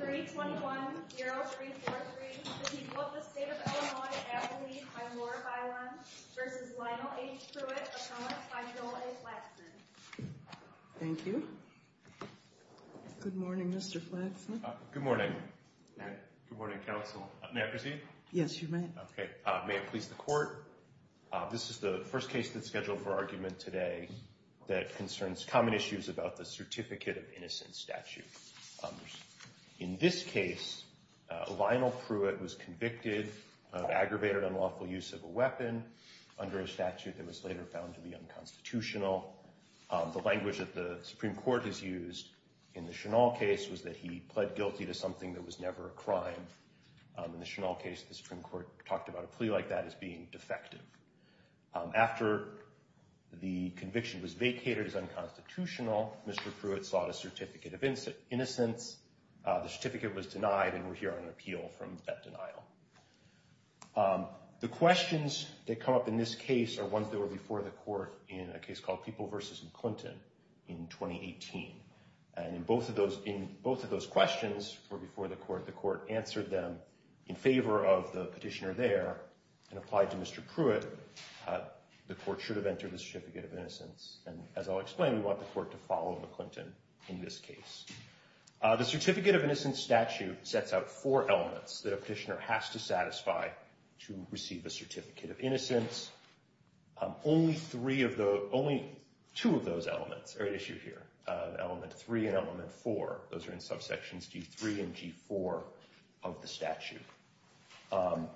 321-0343, the people of the state of Illinois, abdicate by Laura Byron v. Lionel H. Pruitt, assemblance by Joel A. Flaxman. Thank you. Good morning, Mr. Flaxman. Good morning. Good morning, counsel. May I proceed? Yes, you may. OK. May it please the court, this is the first case that's scheduled for argument today that concerns common issues about the certificate of innocence statute. In this case, Lionel Pruitt was convicted of aggravated unlawful use of a weapon under a statute that was later found to be unconstitutional. The language that the Supreme Court has used in the Chennault case was that he pled guilty to something that was never a crime. In the Chennault case, the Supreme Court talked about a plea like that as being defective. After the conviction was vacated as unconstitutional, Mr. Pruitt sought a certificate of innocence. The certificate was denied, and we're here on appeal from that denial. The questions that come up in this case are ones that were before the court in a case called People v. Clinton in 2018. And in both of those questions before the court, the court answered them in favor of the petitioner there and applied to Mr. Pruitt. The court should have entered the certificate of innocence. And as I'll explain, we want the court to follow the Clinton in this case. The certificate of innocence statute sets out four elements that a petitioner has to satisfy to receive a certificate of innocence. Only two of those elements are at issue here, element three and element four. Those are in subsections G3 and G4 of the statute. I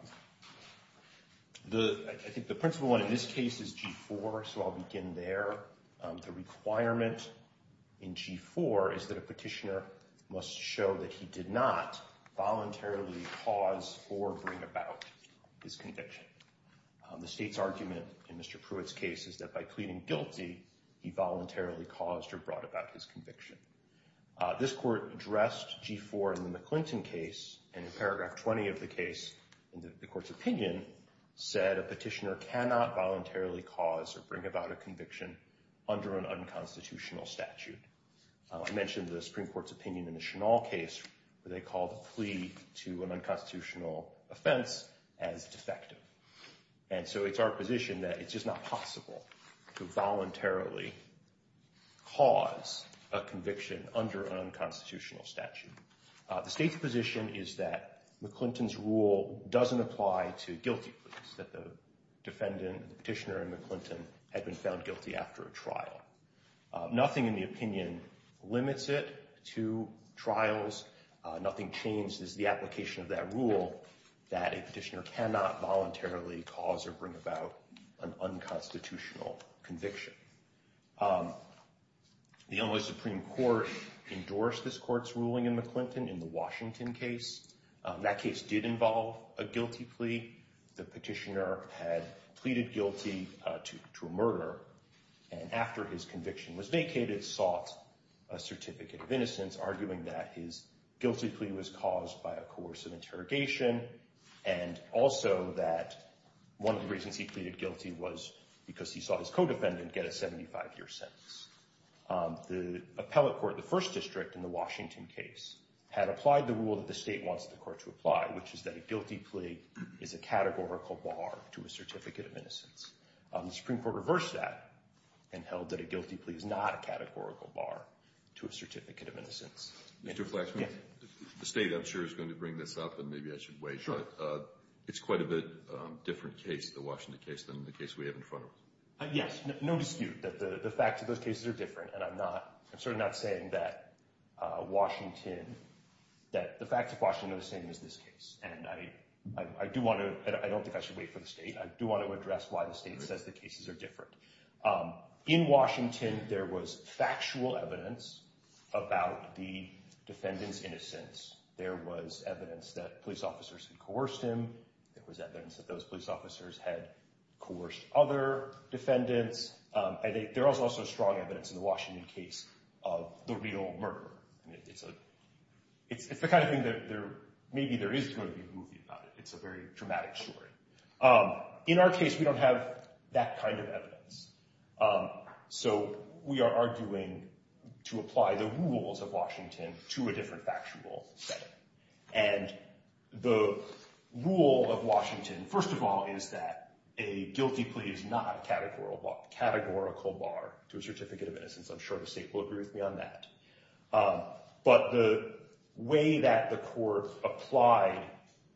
think the principal one in this case is G4, so I'll begin there. The requirement in G4 is that a petitioner must show that he did not voluntarily cause or bring about his conviction. The state's argument in Mr. Pruitt's case is that by pleading guilty, he voluntarily caused or brought about his conviction. This court addressed G4 in the McClinton case, and in paragraph 20 of the case, the court's opinion said a petitioner cannot voluntarily cause or bring about a conviction under an unconstitutional statute. I mentioned the Supreme Court's opinion in the Chennault case where they called a plea to an unconstitutional offense as defective. And so it's our position that it's just not possible to voluntarily cause a conviction under an unconstitutional statute. The state's position is that McClinton's rule doesn't apply to guilty pleas, that the defendant, the petitioner in McClinton had been found guilty after a trial. Nothing in the opinion limits it to trials. Nothing changes the application of that rule that a petitioner cannot voluntarily cause or bring about an unconstitutional conviction. The Illinois Supreme Court endorsed this court's ruling in McClinton in the Washington case. That case did involve a guilty plea. The petitioner had pleaded guilty to a murder, and after his conviction was vacated, sought a certificate of innocence, arguing that his guilty plea was caused by a coercive interrogation, and also that one of the reasons he pleaded guilty was because he saw his co-defendant get a 75-year sentence. The appellate court, the first district that the state wants the court to apply, which is that a guilty plea is a categorical bar to a certificate of innocence. The Supreme Court reversed that and held that a guilty plea is not a categorical bar to a certificate of innocence. Mr. Flaxman, the state, I'm sure, is going to bring this up, and maybe I should wait, but it's quite a bit different case, the Washington case, than the case we have in front of us. Yes, no dispute that the facts of those cases are different, and I'm not, I'm certainly not saying that Washington, that the facts of Washington are the same as this case, and I do want to, I don't think I should wait for the state. I do want to address why the state says the cases are different. In Washington, there was factual evidence about the defendant's innocence. There was evidence that police officers had coerced him. There was evidence that those police officers had coerced other defendants. There was also strong evidence in the Washington case of the real murderer. It's the kind of thing that there, maybe there is going to be a movie about it. It's a very dramatic story. In our case, we don't have that kind of evidence. So we are arguing to apply the rules of Washington to a different factual setting. And the rule of Washington, first of all, is that a guilty plea is not a categorical bar to a certificate of innocence. I'm sure the state will agree with me on that. But the way that the court applied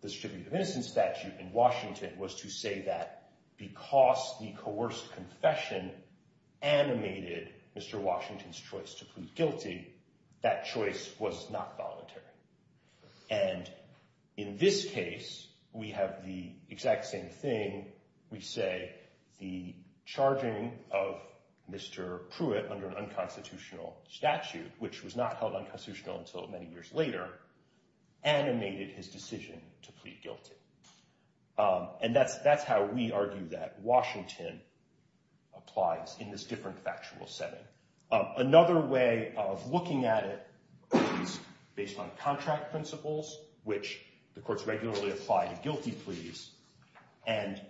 the certificate of innocence statute in Washington was to say that because the coerced confession animated Mr. Washington's choice to plead guilty, that choice was not voluntary. And in this case, we have the exact same thing. We say the charging of Mr. Pruitt under an unconstitutional statute, which was not held unconstitutional until many years later, animated his decision to plead guilty. And that's how we argue that Washington applies in this different factual setting. Another way of looking at it is based on contract principles, which the courts regularly apply to guilty pleas. And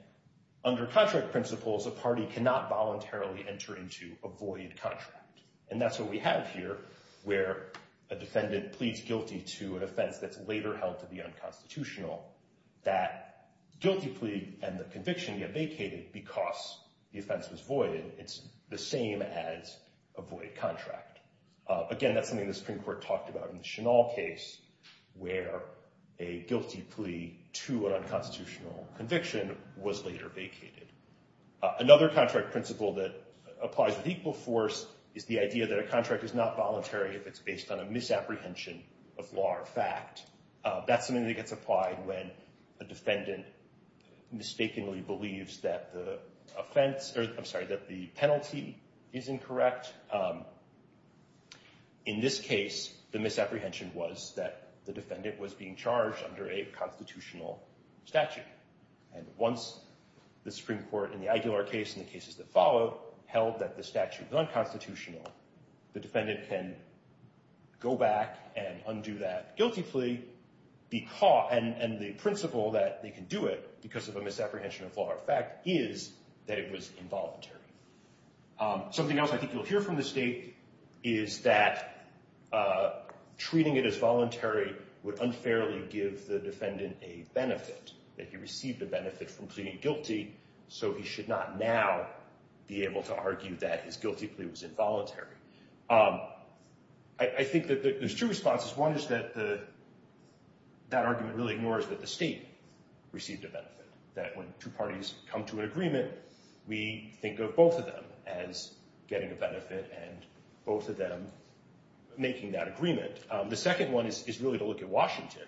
under contract principles, a party cannot voluntarily enter into a void contract. And that's what we have here, where a defendant pleads guilty to an offense that's later held to be unconstitutional. That guilty plea and the conviction get vacated because the offense was voided. It's the same as a void contract. Again, that's something the Supreme Court talked about in the Chennault case, where a guilty plea to an unconstitutional conviction was later vacated. Another contract principle that applies with equal force is the idea that a contract is not voluntary if it's based on a misapprehension of law or fact. That's something that gets applied when a defendant mistakenly believes that the offense, or I'm sorry, that the penalty is incorrect. In this case, the misapprehension was that the defendant was being charged under a constitutional statute. And once the Supreme Court in the Aguilar case and the cases that follow held that the statute was unconstitutional, the defendant can go back and undo that guilty plea, be caught, and the principle that they can do it because of a misapprehension of law or fact is that it was involuntary. Something else I think you'll hear from the state is that treating it as voluntary would unfairly give the defendant a benefit, that he received a benefit from pleading guilty, so he should not now be able to argue that his guilty plea was involuntary. I think that there's two responses. One is that that argument really ignores that the state received a benefit, that when two parties come to an agreement, we think of both of them as getting a benefit and both of them making that agreement. The second one is really to look at Washington.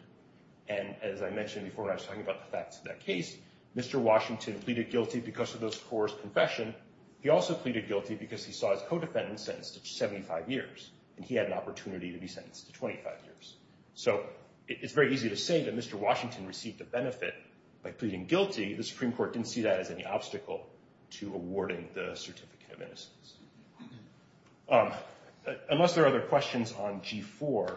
And as I mentioned before, when I was talking about the facts of that case, Mr. Washington pleaded guilty because of those four's confession. He also pleaded guilty because he saw his co-defendant sentenced to 75 years, and he had an opportunity to be sentenced to 25 years. So it's very easy to say that Mr. Washington received a benefit by pleading guilty. The Supreme Court didn't see that as any obstacle to awarding the Certificate of Innocence. Unless there are other questions on G4,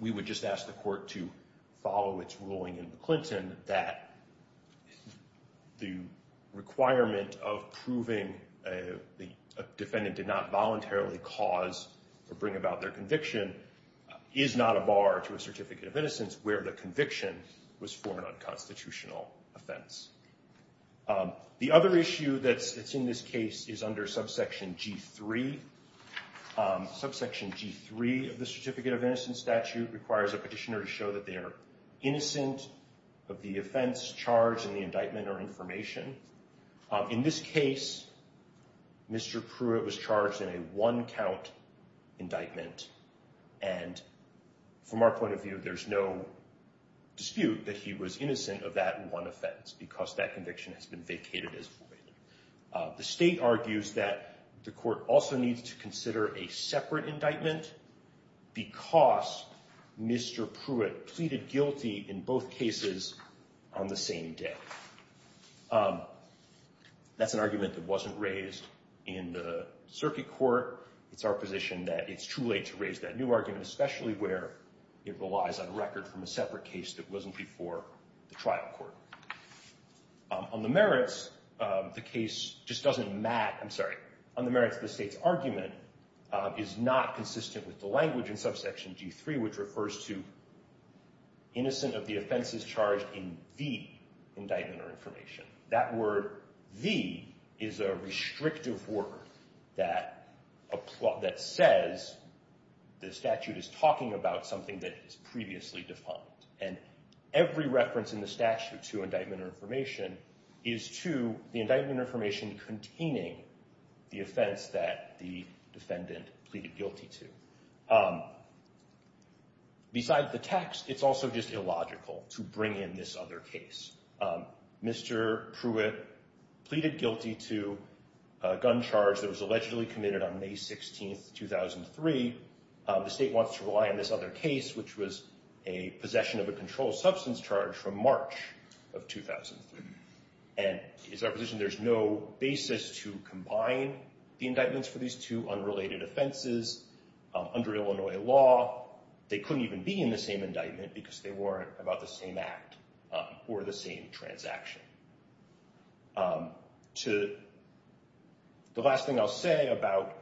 we would just ask the court to follow its ruling in Clinton that the requirement of proving a defendant did not voluntarily cause or bring about their conviction is not a bar to a Certificate of Innocence where the conviction was for an unconstitutional offense. The other issue that's in this case is under subsection G3. Subsection G3 of the Certificate of Innocence statute requires a petitioner to show that they are innocent, of the offense charged in the indictment or information. In this case, Mr. Pruitt was charged in a one-count indictment, and from our point of view, there's no dispute that he was innocent of that one offense because that conviction has been vacated as void. The state argues that the court also needs to consider a separate indictment because Mr. Pruitt pleaded guilty in both cases on the same day. That's an argument that wasn't raised in the circuit court. It's our position that it's too late to raise that new argument, especially where it relies on record from a separate case that wasn't before the trial court. On the merits, the case just doesn't mat, I'm sorry, on the merits of the state's argument is not consistent with the language in Subsection G3, which refers to innocent of the offenses charged in the indictment or information. That word, the, is a restrictive word that says the statute is talking about something that is previously defined, and every reference in the statute to indictment or information is to the indictment or information containing the offense that the defendant pleaded guilty to. Beside the text, it's also just illogical to bring in this other case. Mr. Pruitt pleaded guilty to a gun charge that was allegedly committed on May 16th, 2003. The state wants to rely on this other case, which was a possession of a controlled substance charge from March of 2003, and it's our position there's no basis to combine the indictments for these two unrelated offenses under Illinois law. They couldn't even be in the same indictment because they weren't about the same act or the same transaction. The last thing I'll say about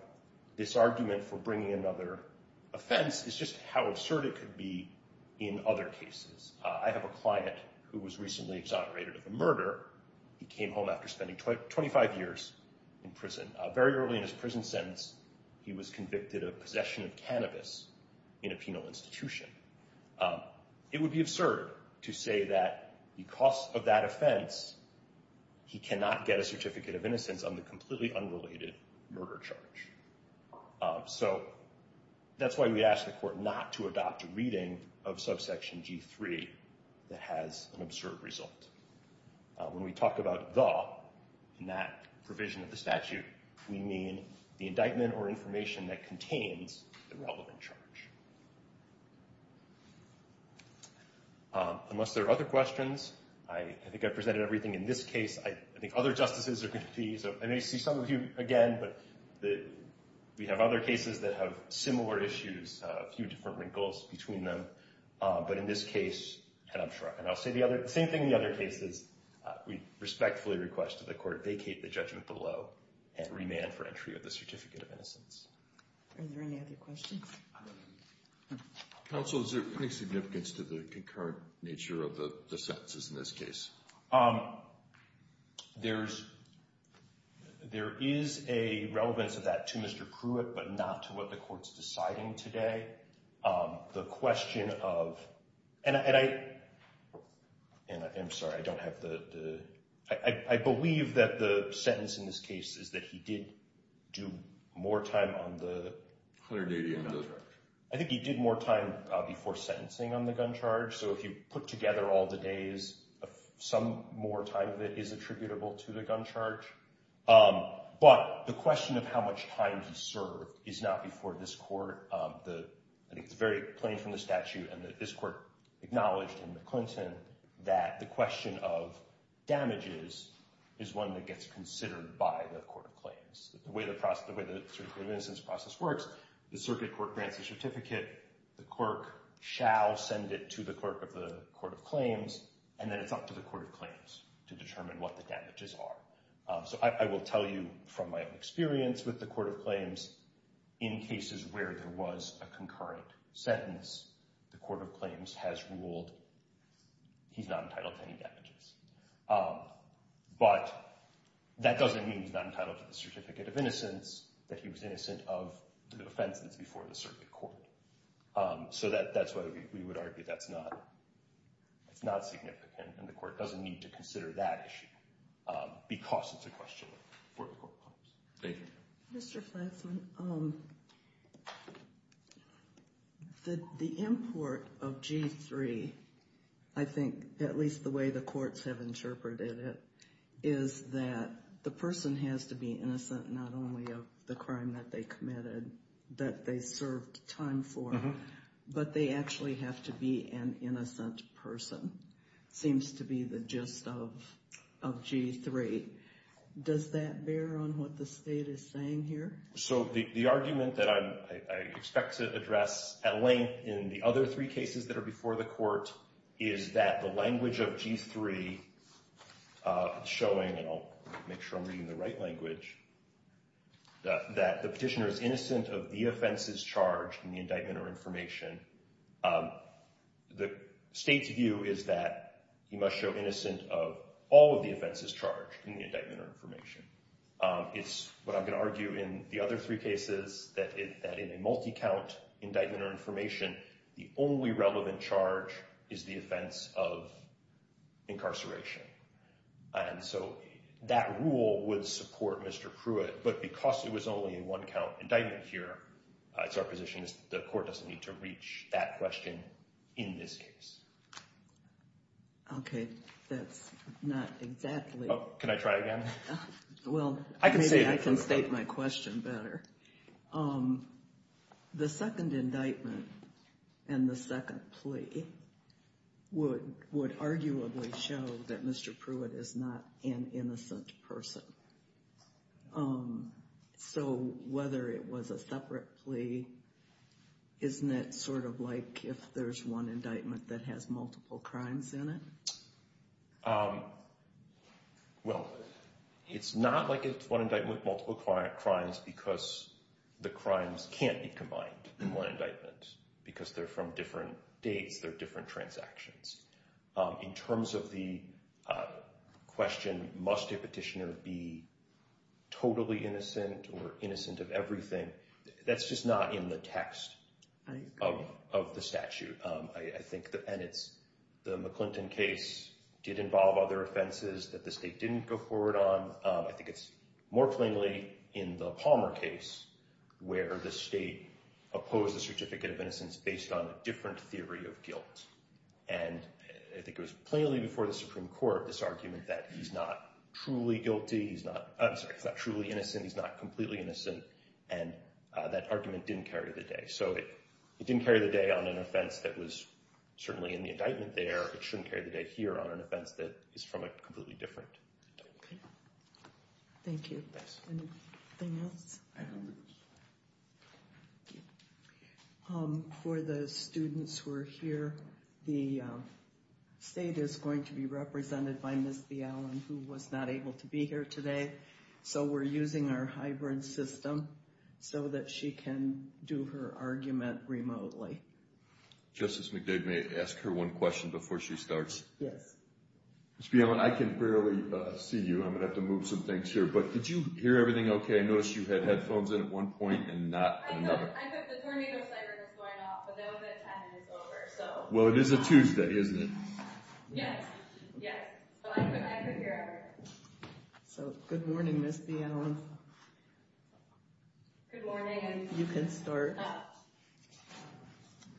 this argument for bringing another offense is just how absurd it could be in other cases. I have a client who was recently exonerated of a murder. He came home after spending 25 years in prison. Very early in his prison sentence, he was convicted of possession of cannabis in a penal institution. It would be absurd to say that because of that offense, he cannot get a certificate of innocence on the completely unrelated murder charge. So that's why we asked the court not to adopt a reading of subsection G3 that has an absurd result. When we talk about the, in that provision of the statute, we mean the indictment or information that contains the relevant charge. Unless there are other questions, I think I've presented everything in this case. I think other justices are gonna be, so I may see some of you again, but we have other cases that have similar issues, a few different wrinkles between them. But in this case, and I'm sure, and I'll say the other, the same thing in the other cases, we respectfully request that the court vacate the judgment below and remand for entry of the certificate of innocence. Are there any other questions? Counsel, is there any significance to the concurrent nature of the sentences in this case? There is a relevance of that to Mr. Pruitt, but not to what the court's deciding today. The question of, and I'm sorry, I don't have the, I believe that the sentence in this case is that he did do more time on the gun charge. I think he did more time before sentencing on the gun charge, so if you put together all the days, some more time of it is attributable to the gun charge. But the question of how much time he served is not before this court. I think it's very plain from the statute and that this court acknowledged in the Clinton that the question of damages is one that gets considered by the court of claims. The way the process, the way the certificate of innocence process works, the circuit court grants the certificate, the clerk shall send it to the clerk of the court of claims, and then it's up to the court of claims to determine what the damages are. So I will tell you from my own experience with the court of claims, in cases where there was a concurrent sentence, the court of claims has ruled he's not entitled to any damages. But that doesn't mean he's not entitled to the certificate of innocence, that he was innocent of the offense that's before the circuit court. So that's why we would argue that's not significant, and the court doesn't need to consider that issue because it's a question for the court of claims. Thank you. Mr. Flatzman, the import of G3, I think at least the way the courts have interpreted it, is that the person has to be innocent not only of the crime that they committed that they served time for, but they actually have to be an innocent person. Seems to be the gist of G3. Does that bear on what the state is saying here? So the argument that I expect to address at length in the other three cases that are before the court is that the language of G3 showing, and I'll make sure I'm reading the right language, that the petitioner is innocent of the offenses charged in the indictment or information. The state's view is that he must show innocent of all of the offenses charged in the indictment or information. It's what I'm gonna argue in the other three cases, that in a multi-count indictment or information, the only relevant charge is the offense of incarceration. And so that rule would support Mr. Pruitt, but because it was only a one-count indictment here, it's our position is that the court doesn't need to reach that question in this case. Okay, that's not exactly. Can I try again? Well, maybe I can state my question better. The second indictment and the second plea would arguably show that Mr. Pruitt is not an innocent person. So whether it was a separate plea, isn't it sort of like if there's one indictment that has multiple crimes in it? Well, it's not like it's one indictment with multiple crimes, because the crimes can't be combined in one indictment, because they're from different dates, they're different transactions. In terms of the question, must a petitioner be totally innocent or innocent of everything? That's just not in the text of the statute. I think, and it's the McClinton case did involve other offenses that the state didn't go forward on. I think it's more plainly in the Palmer case, where the state opposed the certificate of innocence based on a different theory of guilt. And I think it was plainly before the Supreme Court, this argument that he's not truly guilty, he's not, I'm sorry, he's not truly innocent, he's not completely innocent, and that argument didn't carry the day. So it didn't carry the day on an offense that was certainly in the indictment there, it shouldn't carry the day here on an offense that is from a completely different indictment. Thank you. Thanks. Anything else? For the students who are here, the state is going to be represented by Ms. Bialin, who was not able to be here today. So we're using our hybrid system so that she can do her argument remotely. Justice McDoug, may I ask her one question before she starts? Yes. Ms. Bialin, I can barely see you, I'm gonna have to move some things here, but did you hear everything okay? I noticed you had headphones in at one point and not another. I know, I put the tornado sirens going off, but now that time is over, so. Well, it is a Tuesday, isn't it? Yes, yes. So I could hear everything. So good morning, Ms. Bialin. Good morning. You can start.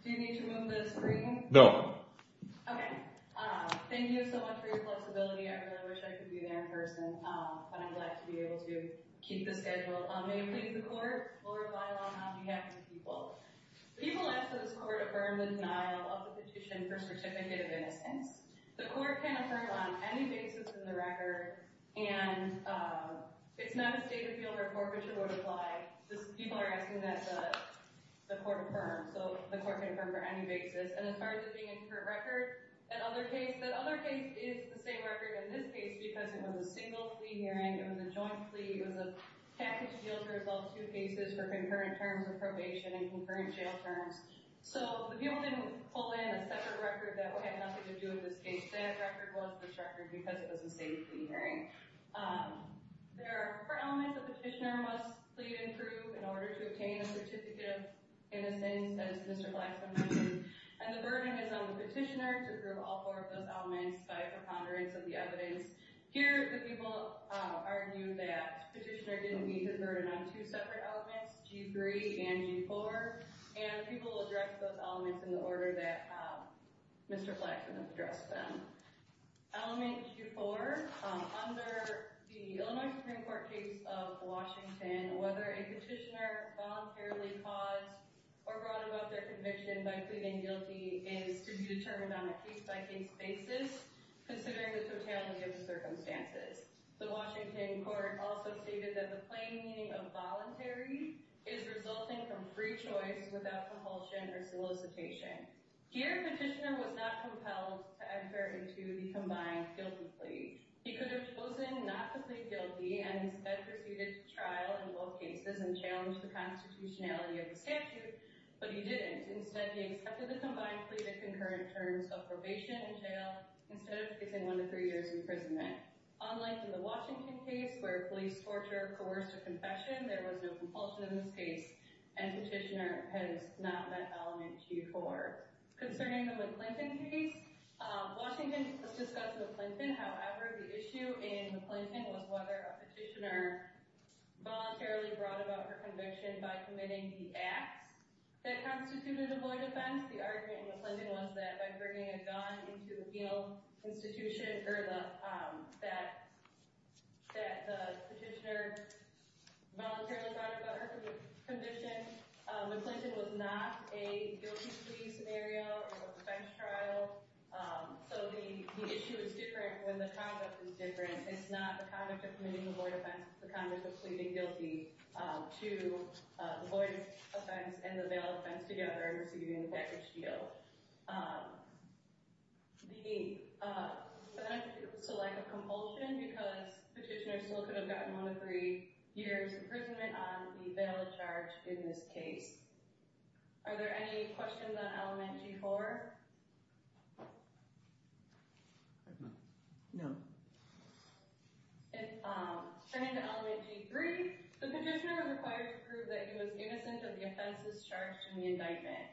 Do you need to move the screen? No. Okay. Thank you so much for your flexibility, I really wish I could be there in person, but I'm glad to be able to keep the schedule. May we please the court? Lord, by law, how do you have these people? People ask that this court affirm the denial of the petition for certificate of innocence. The court can affirm on any basis in the record, and it's not a state of the field report which it would apply. People are asking that the court affirm, so the court can affirm for any basis, and as far as it being a current record, that other case is the same record as this case because it was a single plea hearing, it was a joint plea, it was a package deal to resolve two cases for concurrent terms of probation and concurrent jail terms, so the people didn't pull in a separate record that had nothing to do with this case, that record was this record because it was a state plea hearing. There are four elements a petitioner must plead and prove in order to obtain a certificate of innocence, as Mr. Blackstone mentioned, and the burden is on the petitioner to prove all four of those elements by a preponderance of the evidence. Here, the people argue that the petitioner didn't meet the burden on two separate elements, G3 and G4, and the people will address those elements in the order that Mr. Blackstone has addressed them. Element G4, under the Illinois Supreme Court case of Washington, whether a petitioner voluntarily caused or brought about their conviction by pleading guilty is to be determined on a case-by-case basis considering the totality of the circumstances. The Washington court also stated that the plain meaning of voluntary is resulting from free choice without compulsion or solicitation. Here, the petitioner was not compelled to enter into the combined guilty plea. He could have chosen not to plead guilty and instead proceeded to trial in both cases and challenge the constitutionality of the statute, but he didn't. Instead, he accepted the combined plea that concurrent terms of probation and jail instead of taking one to three years imprisonment. Unlike in the Washington case where police torture coerced a confession, there was no compulsion in this case, and petitioner has not met element G4. Concerning the McClinton case, Washington has discussed McClinton. However, the issue in McClinton was whether a petitioner voluntarily brought about her conviction by committing the acts that constituted a void offense. The argument in McClinton was that by bringing a gun into the penal institution, that the petitioner voluntarily brought about her conviction. McClinton was not a guilty plea scenario or a defense trial. So the issue is different when the conduct is different. It's not the conduct of committing the void offense, it's the conduct of pleading guilty to the void offense and the bail offense together and receiving the package deal. So, the lack of compulsion because petitioner still could have gotten one to three years imprisonment on the bail charge in this case. Are there any questions on element G4? No. Turning to element G3, the petitioner was required to prove that he was innocent of the offenses charged in the indictment.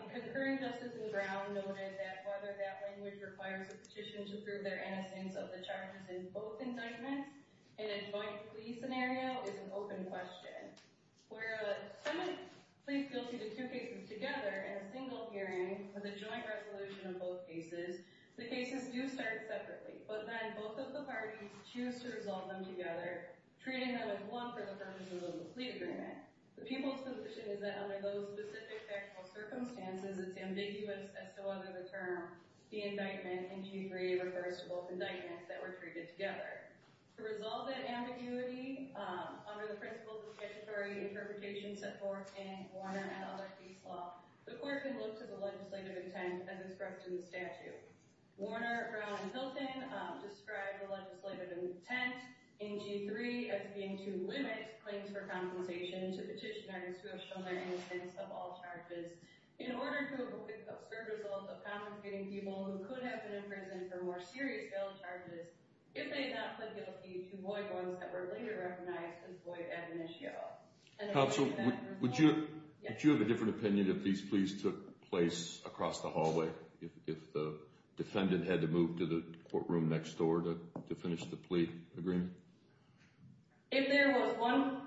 The concurring justice in the ground noted that whether that language requires a petition to prove their innocence of the charges in both indictments in a joint plea scenario is an open question. Where someone pleads guilty to two cases together in a single hearing with a joint resolution of both cases, the cases do start separately, but then both of the parties choose to resolve them together treating them as one for the purposes of the plea agreement. The people's position is that under those specific factual circumstances, it's ambiguous as to whether the term, the indictment in G3 refers to both indictments that were treated together. To resolve that ambiguity, under the principles of statutory interpretation set forth in Warner et al. Peace Law, the court can look to the legislative intent as instructed in the statute. Warner, Brown, and Hilton describe the legislative intent in G3 as being to limit claims for compensation to petitioners who have shown their innocence of all charges in order to have a quick, absurd result of convicting people who could have been in prison for more serious bail charges if they had not pled guilty to void ones that were later recognized as void ad initio. Counsel, would you have a different opinion if these pleas took place across the hallway? If the defendant had to move to the courtroom next door to finish the plea agreement? If there was one,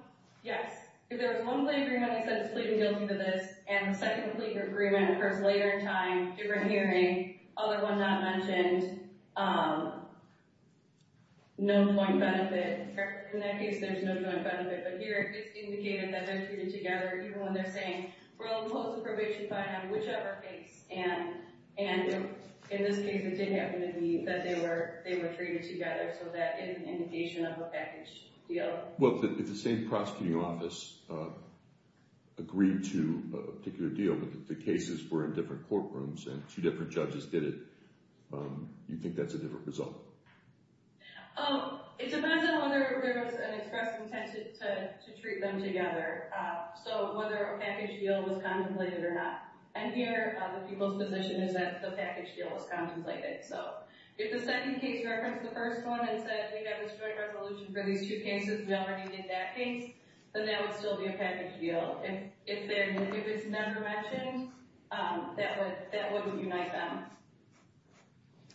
yes. If there was one plea agreement that said he's pleading guilty to this and a second plea agreement occurs later in time, different hearing, other one not mentioned, no point benefit. In that case, there's no point benefit. But here, it's indicated that they're treated together even when they're saying, we'll impose a probation fine on whichever case. And in this case, it did happen to be that they were treated together. So that is an indication of a package deal. Well, if the same prosecuting office agreed to a particular deal, but the cases were in different courtrooms and two different judges did it, you'd think that's a different result. It depends on whether there was an express intention to treat them together. So whether a package deal was contemplated or not. And here, the people's position is that the package deal was contemplated. So if the second case referenced the first one and said they have this joint resolution for these two cases, we already did that case, then that would still be a package deal. And if it was never mentioned, that wouldn't unite them.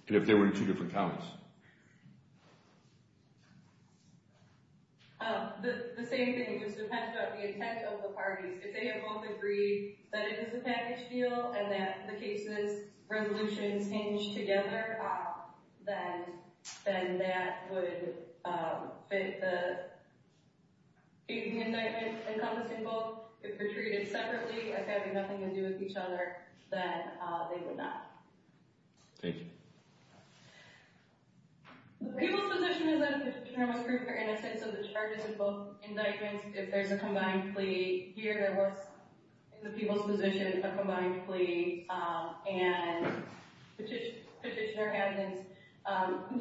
And if they were in two different counties? The same thing, it just depends on the intent of the parties. If they have both agreed that it is a package deal and that the case's resolutions hinge together, then that would fit the indictment encompassing both. If they're treated separately, as having nothing to do with each other, then they would not. Thank you. The people's position is that the chairman's group are innocent, so the charges are both indictments. If there's a combined plea here, what's in the people's position, a combined plea, and the petitioner hasn't,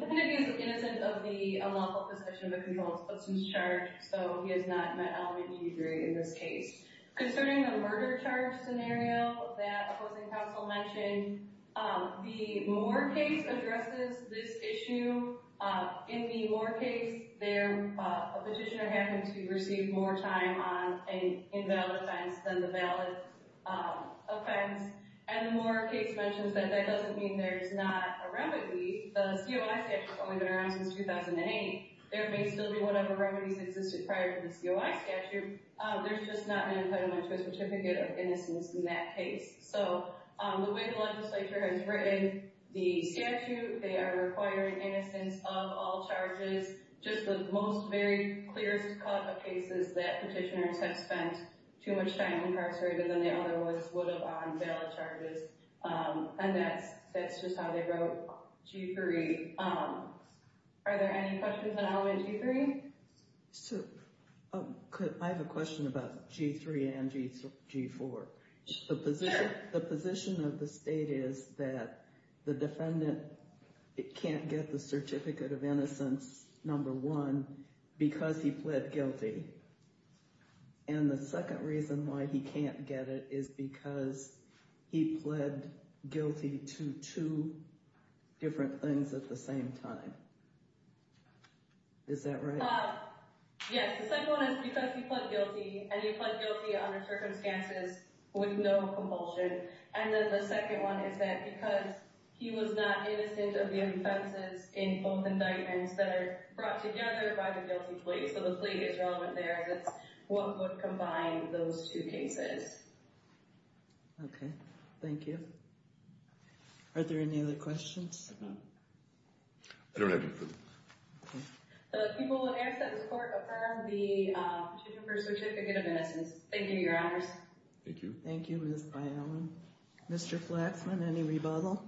definitely is innocent of the unlawful possession of a controlled substance charge, so he has not met all of the needy degree in this case. Concerning the murder charge scenario that opposing counsel mentioned, the Moore case addresses this issue. In the Moore case, a petitioner happened to receive more time on an invalid offense than the valid offense, and the Moore case mentions that that doesn't mean there's not a remedy. The COI statute's only been around since 2008. There may still be whatever remedies existed prior to the COI statute, there's just not an impediment to a certificate of innocence in that case. So the way the legislature has written the statute, they are requiring innocence of all charges. Just the most very clear cut of cases that petitioners have spent too much time incarcerated than they otherwise would have on valid charges, and that's just how they wrote G3. Are there any questions on element G3? So, I have a question about G3 and G4. The position of the state is that the defendant can't get the certificate of innocence, number one, because he pled guilty, and the second reason why he can't get it is because he pled guilty to two different things at the same time. Is that right? Yes, the second one is because he pled guilty, and he pled guilty under circumstances with no compulsion, and then the second one is that because he was not innocent of the offenses in both indictments that are brought together by the guilty plea, so the plea is relevant there, as it's what would combine those two cases. Okay, thank you. Are there any other questions? I don't have any questions. The people of Amstutz Court affirm the petition for certificate of innocence. Thank you, Your Honors. Thank you. Thank you, Ms. Byowen. Mr. Flaxman, any rebuttal? Oops.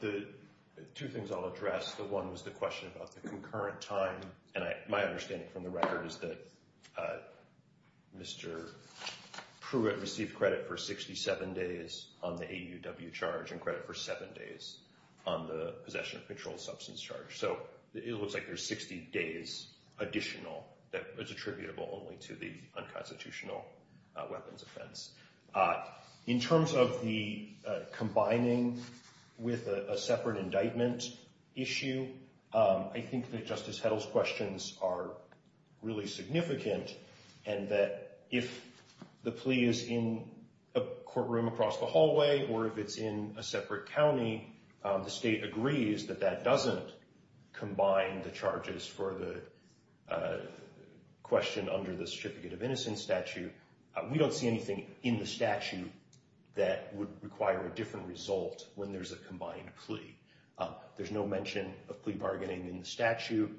The two things I'll address, the one was the question about the concurrent time, and my understanding from the record is that Mr. Pruitt received credit for 67 days on the AUW charge and credit for seven days on the possession of controlled substance charge, so it looks like there's 60 days additional that was attributable only to the unconstitutional weapons offense. In terms of the combining with a separate indictment issue, I think that Justice Heddle's questions are really significant, and that if the plea is in a courtroom across the hallway or if it's in a separate county, the state agrees that that doesn't combine the charges for the question under the certificate of innocence statute. We don't see anything in the statute that would require a different result when there's a combined plea. There's no mention of plea bargaining in the statute.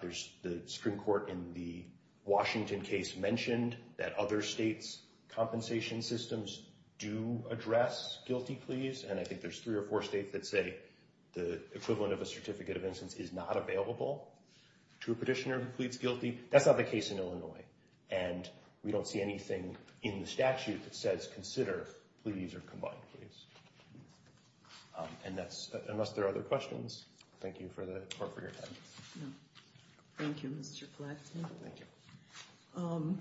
There's the Supreme Court in the Washington case mentioned that other states' compensation systems do address guilty pleas, and I think there's three or four states that say the equivalent of a certificate of innocence is not available to a petitioner who pleads guilty. That's not the case in Illinois, and we don't see anything in the statute that says consider pleas or combined pleas. And that's, unless there are other questions, thank you for your time. No, thank you, Mr. Flaxman. Thank you.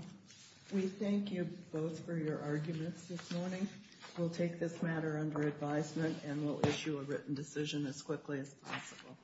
We thank you both for your arguments this morning. We'll take this matter under advisement, and we'll issue a written decision as quickly as possible.